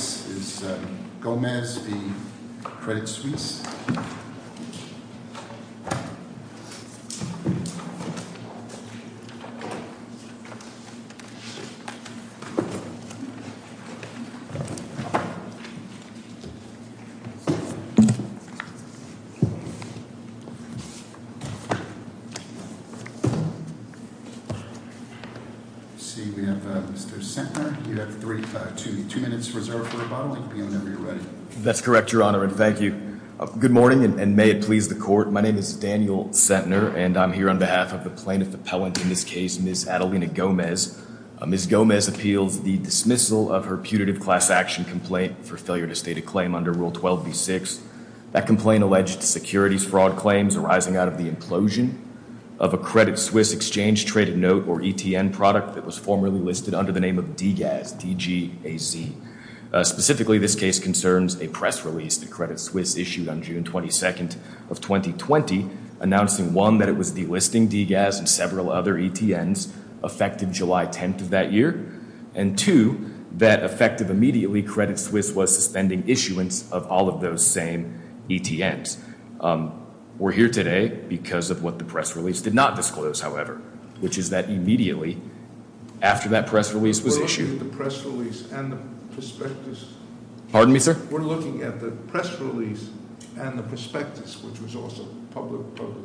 This is Gomez v. Credit Suisse. Thank you. That's correct, Your Honor. And thank you. Good morning and may it please the court. My name is Daniel Centner and I'm here on behalf of the plaintiff appellant in this case, Miss Adelina Gomez. Miss Gomez appeals the dismissal of her putative class action complaint for failure to state a claim under Rule 12 v. 6. That complaint alleged securities fraud claims arising out of the implosion of a Credit Suisse exchange traded note or ETN product that was formerly listed under the name of DGAS, D-G-A-Z. Specifically, this case concerns a press release that Credit Suisse issued on June 22nd of 2020 announcing, one, that it was delisting DGAS and several other ETNs effective July 10th of that year. And, two, that effective immediately Credit Suisse was suspending issuance of all of those same ETNs. We're here today because of what the press release did not disclose, however, which is that immediately after that press release was issued. We're looking at the press release and the prospectus. Pardon me, sir? We're looking at the press release and the prospectus, which was also public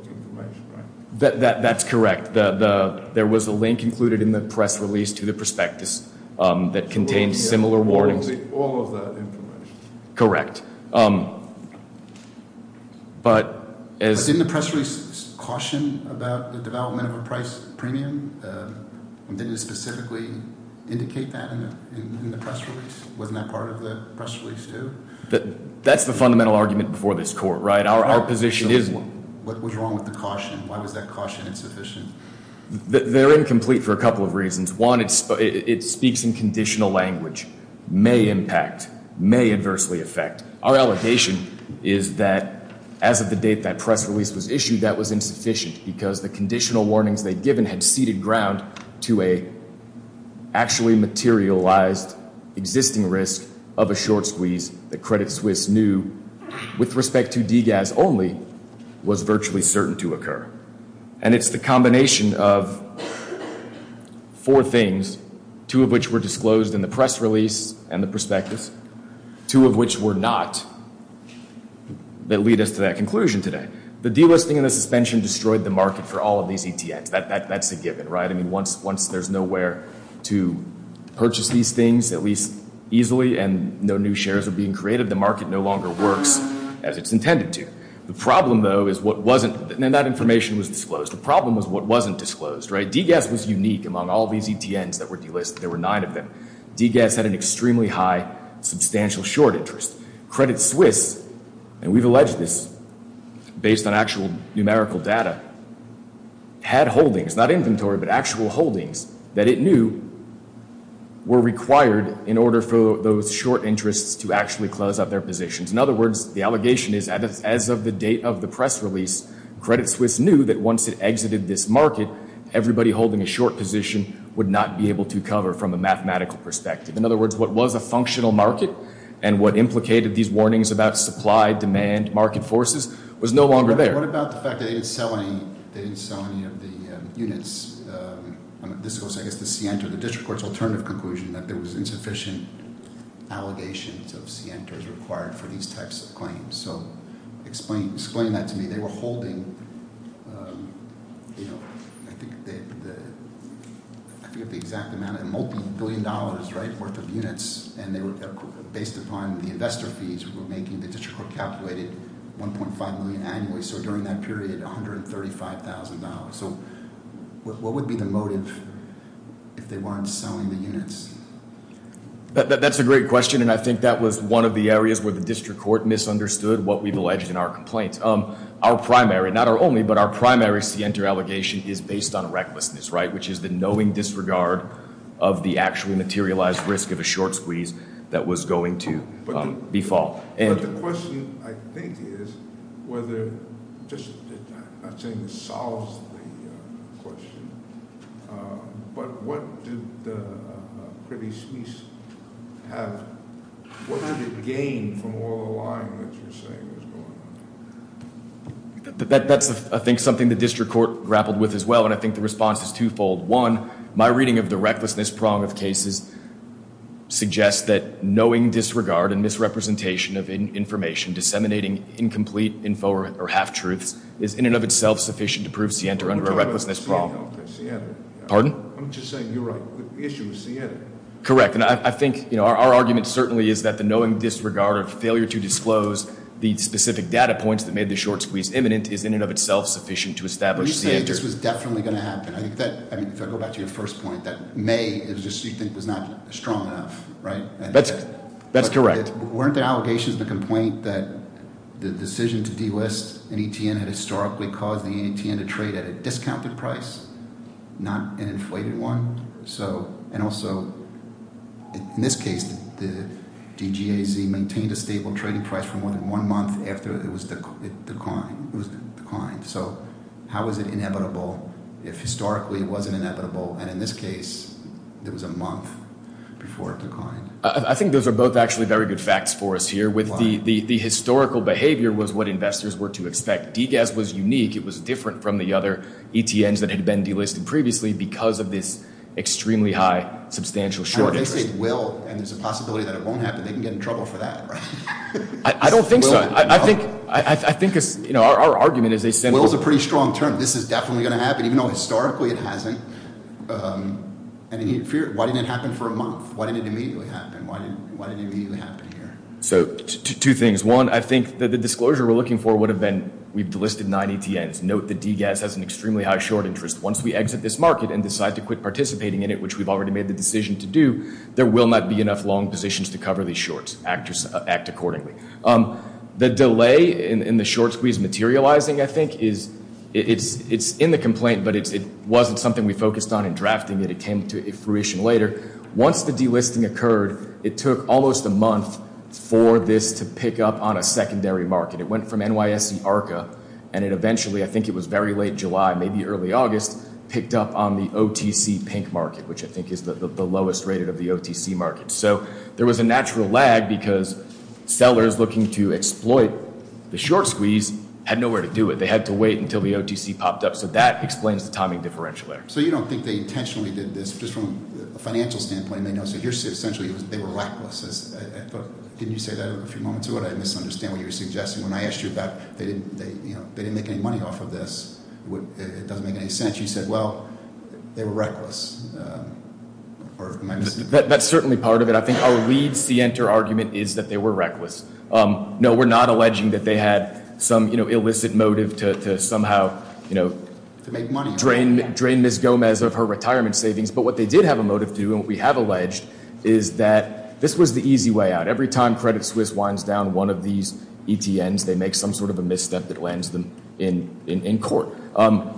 information, right? That's correct. There was a link included in the press release to the prospectus that contained similar warnings. All of that information. Correct. But as- Did it caution about the development of a price premium? Did it specifically indicate that in the press release? Wasn't that part of the press release, too? That's the fundamental argument before this court, right? Our position is- What was wrong with the caution? Why was that caution insufficient? They're incomplete for a couple of reasons. One, it speaks in conditional language. May impact. May adversely affect. Our allegation is that as of the date that press release was issued, that was insufficient because the conditional warnings they'd given had ceded ground to an actually materialized existing risk of a short squeeze that Credit Suisse knew, with respect to DGAS only, was virtually certain to occur. And it's the combination of four things, two of which were disclosed in the press release and the prospectus, two of which were not, that lead us to that conclusion today. The delisting and the suspension destroyed the market for all of these ETNs. That's a given, right? I mean, once there's nowhere to purchase these things, at least easily, and no new shares are being created, the market no longer works as it's intended to. The problem, though, is what wasn't- And that information was disclosed. The problem was what wasn't disclosed, right? DGAS was unique among all these ETNs that were delisted. There were nine of them. DGAS had an extremely high substantial short interest. Credit Suisse, and we've alleged this based on actual numerical data, had holdings, not inventory, but actual holdings that it knew were required in order for those short interests to actually close out their positions. In other words, the allegation is as of the date of the press release, Credit Suisse knew that once it exited this market, everybody holding a short position would not be able to cover from a mathematical perspective. In other words, what was a functional market and what implicated these warnings about supply, demand, market forces was no longer there. What about the fact that they didn't sell any of the units? This goes, I guess, to Sienta, the district court's alternative conclusion that there was insufficient allegations of Sienta as required for these types of claims. Explain that to me. They were holding, I forget the exact amount, a multi-billion dollars worth of units. And based upon the investor fees we were making, the district court calculated 1.5 million annually. So during that period, $135,000. So what would be the motive if they weren't selling the units? That's a great question, and I think that was one of the areas where the district court misunderstood what we've alleged in our complaints. Our primary, not our only, but our primary Sienta allegation is based on recklessness, right? Which is the knowing disregard of the actually materialized risk of a short squeeze that was going to befall. But the question, I think, is whether, I'm not saying this solves the question. But what did the pretty squeeze have, what did it gain from all the lying that you're saying was going on? That's, I think, something the district court grappled with as well, and I think the response is twofold. One, my reading of the recklessness prong of cases suggests that knowing disregard and misrepresentation of information disseminating incomplete info or half-truths is in and of itself sufficient to prove Sienta under a recklessness prong. Pardon? I'm just saying you're right, the issue is Sienta. Correct, and I think our argument certainly is that the knowing disregard or failure to disclose the specific data points that made the short squeeze imminent is in and of itself sufficient to establish Sienta. I think this was definitely going to happen. I think that, if I go back to your first point, that may, it was just you think was not strong enough, right? That's correct. Weren't the allegations the complaint that the decision to delist an ETN had historically caused the ETN to trade at a discounted price, not an inflated one? So, and also, in this case, the DGAZ maintained a stable trading price for more than one month after it was declined. So how was it inevitable if historically it wasn't inevitable, and in this case, it was a month before it declined? I think those are both actually very good facts for us here with the historical behavior was what investors were to expect. DGAZ was unique. It was different from the other ETNs that had been delisted previously because of this extremely high substantial short interest. I think they will, and there's a possibility that it won't happen. They can get in trouble for that, right? I don't think so. I think our argument is a simple- Will's a pretty strong term. This is definitely going to happen, even though historically it hasn't. Why didn't it happen for a month? Why didn't it immediately happen? Why didn't it immediately happen here? So two things. One, I think that the disclosure we're looking for would have been we've delisted nine ETNs. Note that DGAZ has an extremely high short interest. Once we exit this market and decide to quit participating in it, which we've already made the decision to do, there will not be enough long positions to cover these shorts. Act accordingly. The delay in the short squeeze materializing, I think, is in the complaint, but it wasn't something we focused on in drafting it. It came to fruition later. Once the delisting occurred, it took almost a month for this to pick up on a secondary market. It went from NYSE ARCA, and it eventually, I think it was very late July, maybe early August, picked up on the OTC pink market, which I think is the lowest rated of the OTC market. So there was a natural lag because sellers looking to exploit the short squeeze had nowhere to do it. They had to wait until the OTC popped up. So that explains the timing differential there. So you don't think they intentionally did this just from a financial standpoint? They know, so here, essentially, they were reckless. Didn't you say that a few moments ago? I misunderstand what you were suggesting. When I asked you about they didn't make any money off of this, it doesn't make any sense. You said, well, they were reckless. That's certainly part of it. I think our lead scienter argument is that they were reckless. No, we're not alleging that they had some illicit motive to somehow drain Ms. Gomez of her retirement savings. But what they did have a motive to do, and what we have alleged, is that this was the easy way out. Every time Credit Suisse winds down one of these ETNs, they make some sort of a misstep that lands them in court.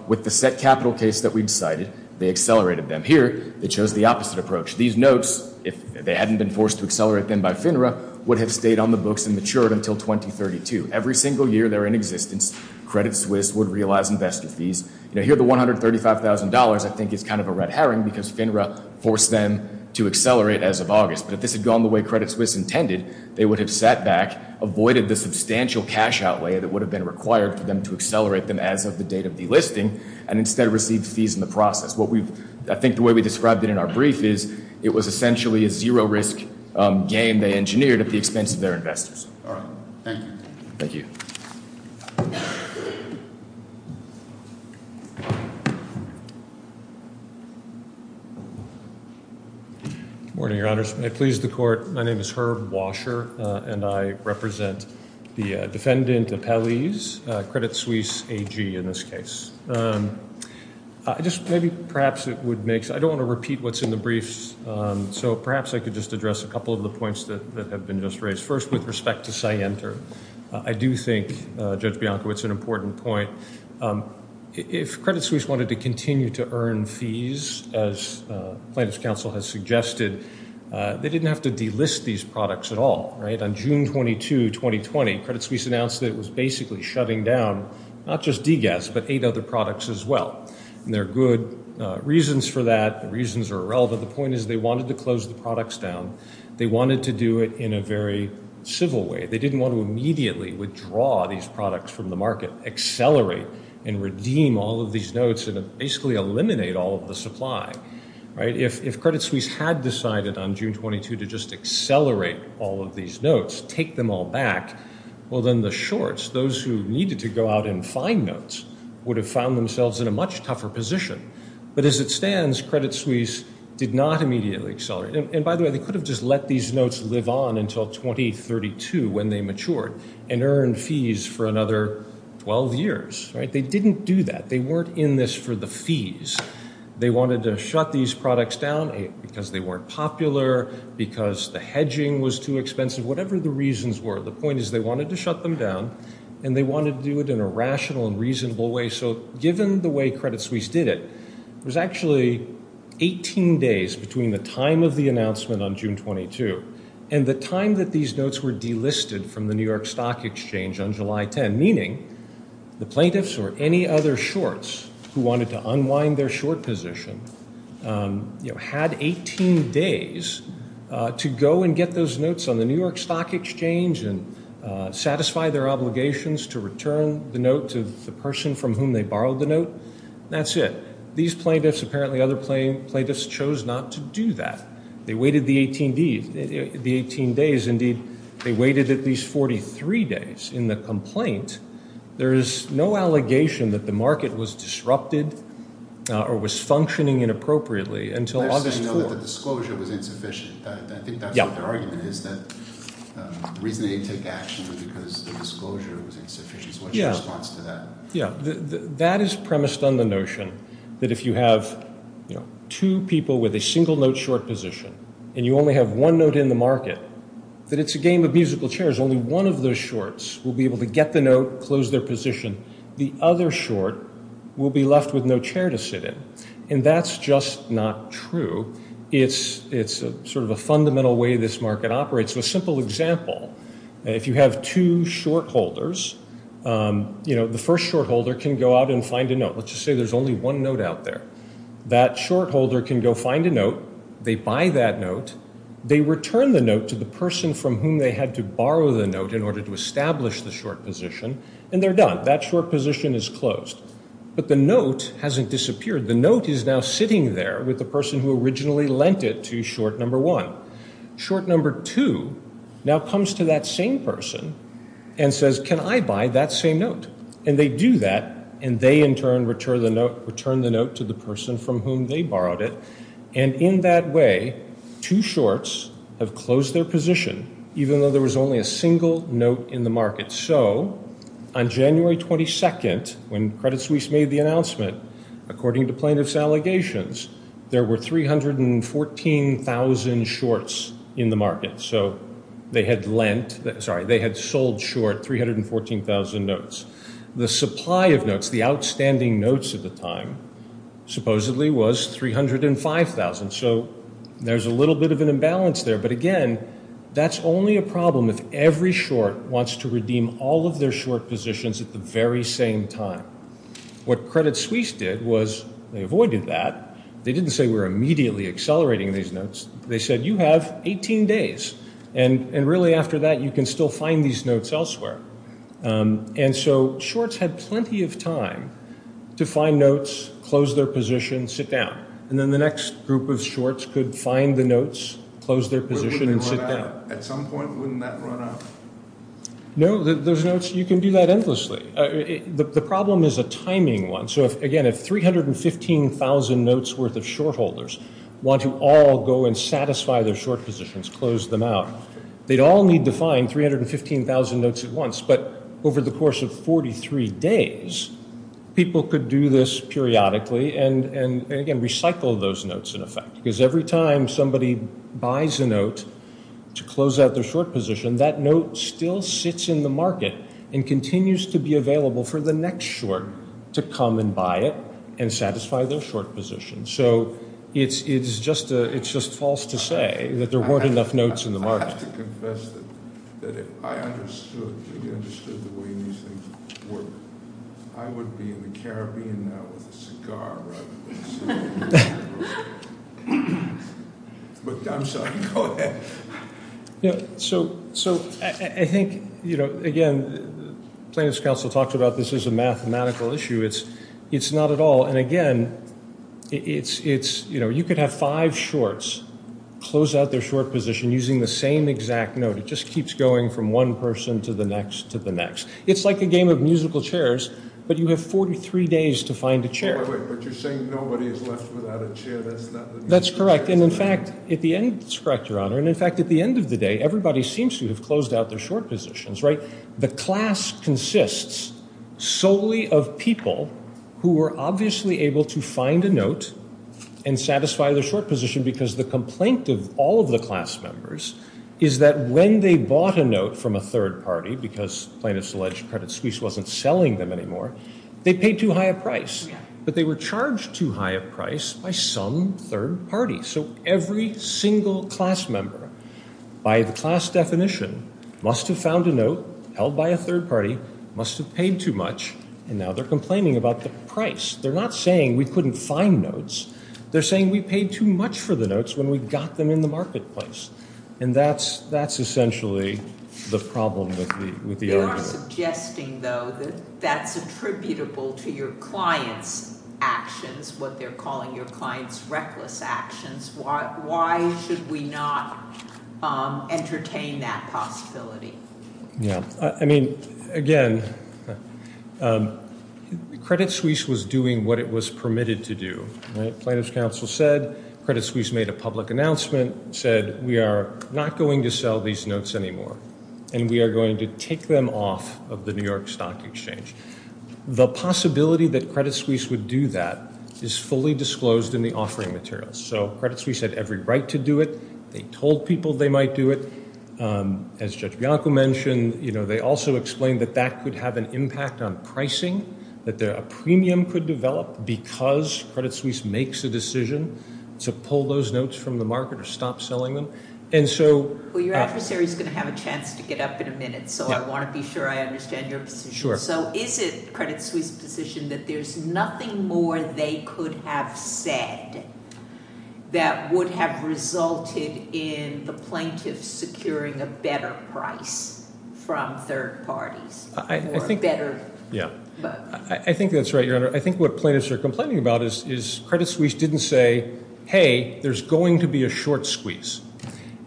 With the set capital case that we decided, they accelerated them. Here, they chose the opposite approach. These notes, if they hadn't been forced to accelerate them by FINRA, would have stayed on the books and matured until 2032. Every single year they're in existence, Credit Suisse would realize investor fees. Here, the $135,000, I think, is kind of a red herring because FINRA forced them to accelerate as of August. But if this had gone the way Credit Suisse intended, they would have sat back, avoided the substantial cash outlay that would have been required for them to accelerate them as of the date of delisting, and instead received fees in the process. I think the way we described it in our brief is it was essentially a zero-risk game they engineered at the expense of their investors. All right. Thank you. Thank you. Good morning, Your Honors. May it please the Court. My name is Herb Washer, and I represent the Defendant Appellees, Credit Suisse AG in this case. I just maybe perhaps it would make sense, I don't want to repeat what's in the briefs, so perhaps I could just address a couple of the points that have been just raised. First, with respect to SIEMTER, I do think, Judge Bianco, it's an important point. If Credit Suisse wanted to continue to earn fees, as plaintiff's counsel has suggested, they didn't have to delist these products at all. On June 22, 2020, Credit Suisse announced that it was basically shutting down not just DGAS but eight other products as well. And there are good reasons for that. The reasons are irrelevant. The point is they wanted to close the products down. They wanted to do it in a very civil way. They didn't want to immediately withdraw these products from the market, accelerate and redeem all of these notes, and basically eliminate all of the supply. If Credit Suisse had decided on June 22 to just accelerate all of these notes, take them all back, well, then the shorts, those who needed to go out and find notes, would have found themselves in a much tougher position. But as it stands, Credit Suisse did not immediately accelerate. And, by the way, they could have just let these notes live on until 2032 when they matured and earned fees for another 12 years. They didn't do that. They weren't in this for the fees. They wanted to shut these products down because they weren't popular, because the hedging was too expensive, whatever the reasons were. The point is they wanted to shut them down, and they wanted to do it in a rational and reasonable way. So given the way Credit Suisse did it, it was actually 18 days between the time of the announcement on June 22 and the time that these notes were delisted from the New York Stock Exchange on July 10, meaning the plaintiffs or any other shorts who wanted to unwind their short position had 18 days to go and get those notes on the New York Stock Exchange and satisfy their obligations to return the note to the person from whom they borrowed the note. That's it. These plaintiffs, apparently other plaintiffs, chose not to do that. They waited the 18 days. Indeed, they waited at least 43 days. In the complaint, there is no allegation that the market was disrupted or was functioning inappropriately until August 4th. The disclosure was insufficient. I think that's what their argument is, that the reason they didn't take action was because the disclosure was insufficient. What's your response to that? That is premised on the notion that if you have two people with a single-note short position and you only have one note in the market, that it's a game of musical chairs. Only one of those shorts will be able to get the note, close their position. The other short will be left with no chair to sit in. And that's just not true. It's sort of a fundamental way this market operates. A simple example, if you have two short holders, the first short holder can go out and find a note. Let's just say there's only one note out there. That short holder can go find a note. They buy that note. They return the note to the person from whom they had to borrow the note in order to establish the short position, and they're done. That short position is closed. But the note hasn't disappeared. The note is now sitting there with the person who originally lent it to short number one. Short number two now comes to that same person and says, can I buy that same note? And they do that, and they in turn return the note to the person from whom they borrowed it. And in that way, two shorts have closed their position, even though there was only a single note in the market. So on January 22nd, when Credit Suisse made the announcement, according to plaintiffs' allegations, there were 314,000 shorts in the market. So they had lent, sorry, they had sold short 314,000 notes. The supply of notes, the outstanding notes at the time, supposedly was 305,000. So there's a little bit of an imbalance there. But again, that's only a problem if every short wants to redeem all of their short positions at the very same time. What Credit Suisse did was they avoided that. They didn't say we're immediately accelerating these notes. They said you have 18 days, and really after that you can still find these notes elsewhere. And so shorts had plenty of time to find notes, close their position, sit down. And then the next group of shorts could find the notes, close their position, and sit down. At some point, wouldn't that run out? No, those notes, you can do that endlessly. The problem is a timing one. So, again, if 315,000 notes worth of short holders want to all go and satisfy their short positions, close them out, they'd all need to find 315,000 notes at once. But over the course of 43 days, people could do this periodically and, again, recycle those notes in effect. Because every time somebody buys a note to close out their short position, that note still sits in the market and continues to be available for the next short to come and buy it and satisfy their short position. So it's just false to say that there weren't enough notes in the market. I have to confess that if I understood the way these things work, I would be in the Caribbean now with a cigar. But I'm sorry. Go ahead. So I think, you know, again, plaintiff's counsel talked about this as a mathematical issue. It's not at all. And, again, it's, you know, you could have five shorts close out their short position using the same exact note. It just keeps going from one person to the next to the next. It's like a game of musical chairs, but you have 43 days to find a chair. But you're saying nobody is left without a chair. That's correct. And, in fact, at the end, it's correct, Your Honor. And, in fact, at the end of the day, everybody seems to have closed out their short positions, right? The class consists solely of people who were obviously able to find a note and satisfy their short position because the complaint of all of the class members is that when they bought a note from a third party, because plaintiff's alleged credit squeeze wasn't selling them anymore, they paid too high a price. But they were charged too high a price by some third party. So every single class member by the class definition must have found a note held by a third party, must have paid too much, and now they're complaining about the price. They're not saying we couldn't find notes. They're saying we paid too much for the notes when we got them in the marketplace. And that's essentially the problem with the argument. You're suggesting, though, that that's attributable to your client's actions, what they're calling your client's reckless actions. Why should we not entertain that possibility? Yeah. I mean, again, credit squeeze was doing what it was permitted to do. Plaintiff's counsel said credit squeeze made a public announcement, said we are not going to sell these notes anymore. And we are going to take them off of the New York Stock Exchange. The possibility that credit squeeze would do that is fully disclosed in the offering materials. So credit squeeze had every right to do it. They told people they might do it. As Judge Bianco mentioned, you know, they also explained that that could have an impact on pricing, that a premium could develop because credit squeeze makes a decision to pull those notes from the market or stop selling them. Well, your adversary is going to have a chance to get up in a minute, so I want to be sure I understand your position. So is it credit squeeze's position that there's nothing more they could have said that would have resulted in the plaintiff securing a better price from third parties? I think that's right, Your Honor. I think what plaintiffs are complaining about is credit squeeze didn't say, hey, there's going to be a short squeeze.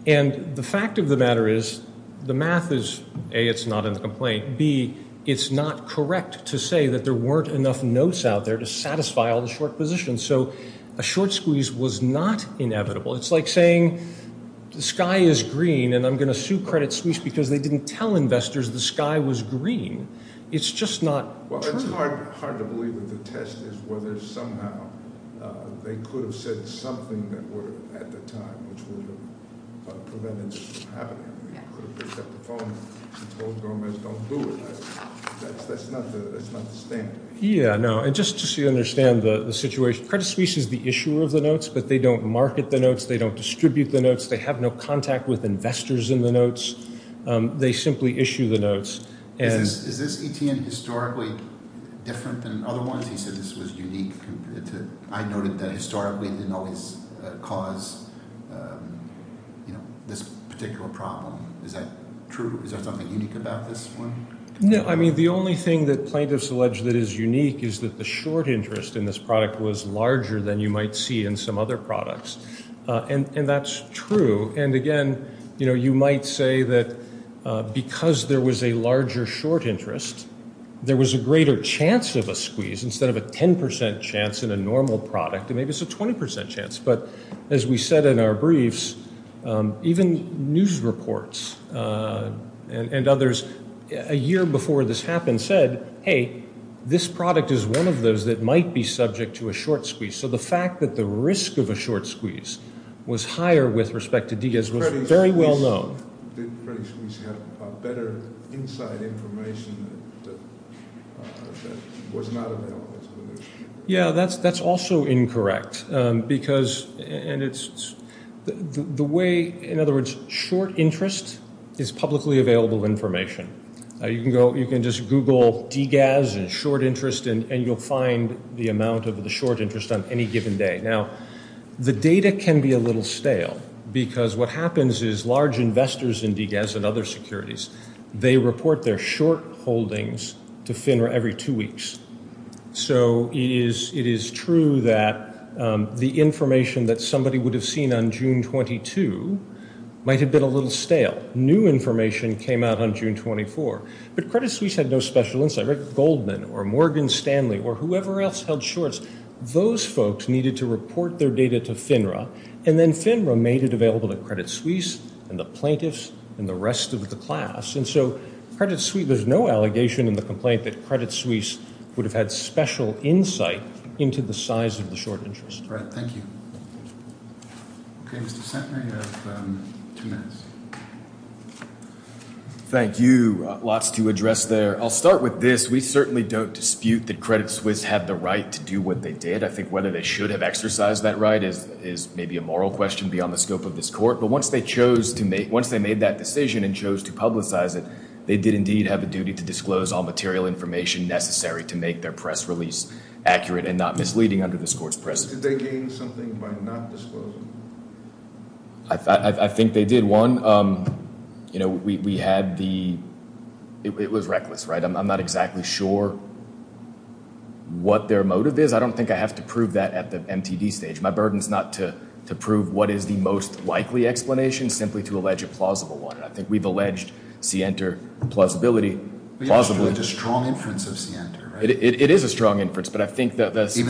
And the fact of the matter is the math is, A, it's not in the complaint. B, it's not correct to say that there weren't enough notes out there to satisfy all the short positions. So a short squeeze was not inevitable. It's like saying the sky is green and I'm going to sue credit squeeze because they didn't tell investors the sky was green. It's just not true. It's hard to believe that the test is whether somehow they could have said something that were at the time which would have prevented this from happening. They could have picked up the phone and told Gomez don't do it. That's not the standard. Yeah, no, and just so you understand the situation, credit squeeze is the issuer of the notes, but they don't market the notes. They don't distribute the notes. They have no contact with investors in the notes. They simply issue the notes. Is this ETN historically different than other ones? He said this was unique. I noted that historically it didn't always cause this particular problem. Is that true? Is there something unique about this one? No, I mean the only thing that plaintiffs allege that is unique is that the short interest in this product was larger than you might see in some other products. And that's true. And, again, you might say that because there was a larger short interest, there was a greater chance of a squeeze instead of a 10% chance in a normal product. Maybe it's a 20% chance. But as we said in our briefs, even news reports and others a year before this happened said, hey, this product is one of those that might be subject to a short squeeze. So the fact that the risk of a short squeeze was higher with respect to DGAS was very well known. Did Freddie's Squeeze have better inside information that was not available to the newspaper? Yeah, that's also incorrect because the way, in other words, short interest is publicly available information. You can just Google DGAS and short interest and you'll find the amount of the short interest on any given day. Now, the data can be a little stale because what happens is large investors in DGAS and other securities, they report their short holdings to FINRA every two weeks. So it is true that the information that somebody would have seen on June 22 might have been a little stale. That new information came out on June 24. But Credit Suisse had no special insight. Rick Goldman or Morgan Stanley or whoever else held shorts, those folks needed to report their data to FINRA. And then FINRA made it available to Credit Suisse and the plaintiffs and the rest of the class. And so Credit Suisse, there's no allegation in the complaint that Credit Suisse would have had special insight into the size of the short interest. All right. Thank you. Okay, Mr. Centner, you have two minutes. Thank you. Lots to address there. I'll start with this. We certainly don't dispute that Credit Suisse had the right to do what they did. I think whether they should have exercised that right is maybe a moral question beyond the scope of this court. But once they made that decision and chose to publicize it, they did indeed have a duty to disclose all material information necessary to make their press release accurate and not misleading under this court's precedent. Or else did they gain something by not disclosing? I think they did. One, you know, we had the – it was reckless, right? I'm not exactly sure what their motive is. I don't think I have to prove that at the MTD stage. My burden is not to prove what is the most likely explanation, simply to allege a plausible one. And I think we've alleged Center plausibility, plausibly. It's a strong inference of Center, right? It is a strong inference. Even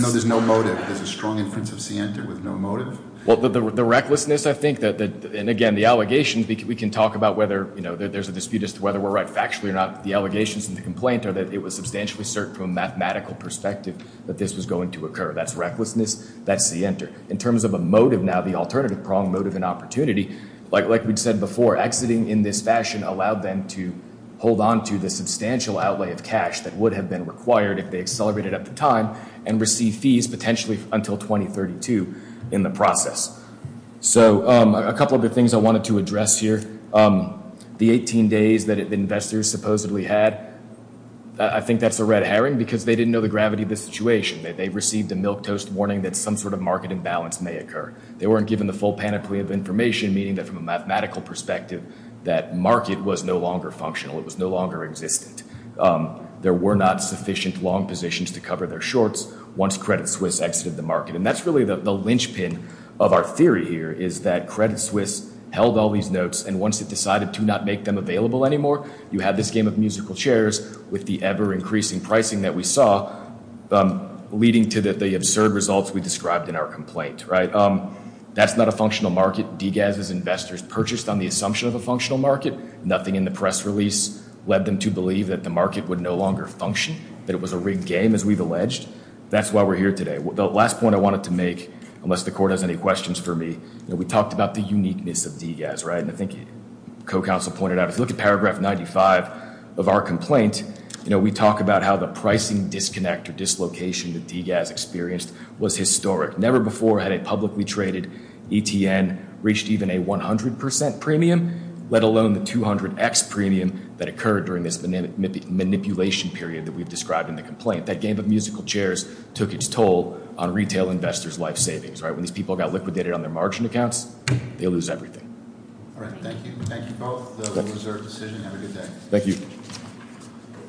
though there's no motive, there's a strong inference of Center with no motive? Well, the recklessness, I think, and again, the allegations, we can talk about whether there's a dispute as to whether we're right factually or not. The allegations in the complaint are that it was substantially certain from a mathematical perspective that this was going to occur. That's recklessness. That's Center. In terms of a motive now, the alternative prong, motive and opportunity, like we said before, exiting in this fashion allowed them to hold on to the substantial outlay of cash that would have been required if they accelerated at the time and receive fees potentially until 2032 in the process. So a couple of the things I wanted to address here. The 18 days that investors supposedly had, I think that's a red herring because they didn't know the gravity of the situation. They received a milquetoast warning that some sort of market imbalance may occur. They weren't given the full panoply of information, meaning that from a mathematical perspective that market was no longer functional. It was no longer existent. There were not sufficient long positions to cover their shorts once Credit Suisse exited the market. And that's really the linchpin of our theory here is that Credit Suisse held all these notes. And once it decided to not make them available anymore, you had this game of musical chairs with the ever increasing pricing that we saw, leading to the absurd results we described in our complaint. Right. That's not a functional market. Degas's investors purchased on the assumption of a functional market. Nothing in the press release led them to believe that the market would no longer function, that it was a rigged game, as we've alleged. That's why we're here today. The last point I wanted to make, unless the court has any questions for me, we talked about the uniqueness of Degas, right? And I think co-counsel pointed out, if you look at paragraph 95 of our complaint, we talk about how the pricing disconnect or dislocation that Degas experienced was historic. Never before had a publicly traded ETN reached even a 100% premium, let alone the 200x premium that occurred during this manipulation period that we've described in the complaint. That game of musical chairs took its toll on retail investors' life savings, right? When these people got liquidated on their margin accounts, they lose everything. All right, thank you. Thank you both. That was our decision. Have a good day. Thank you.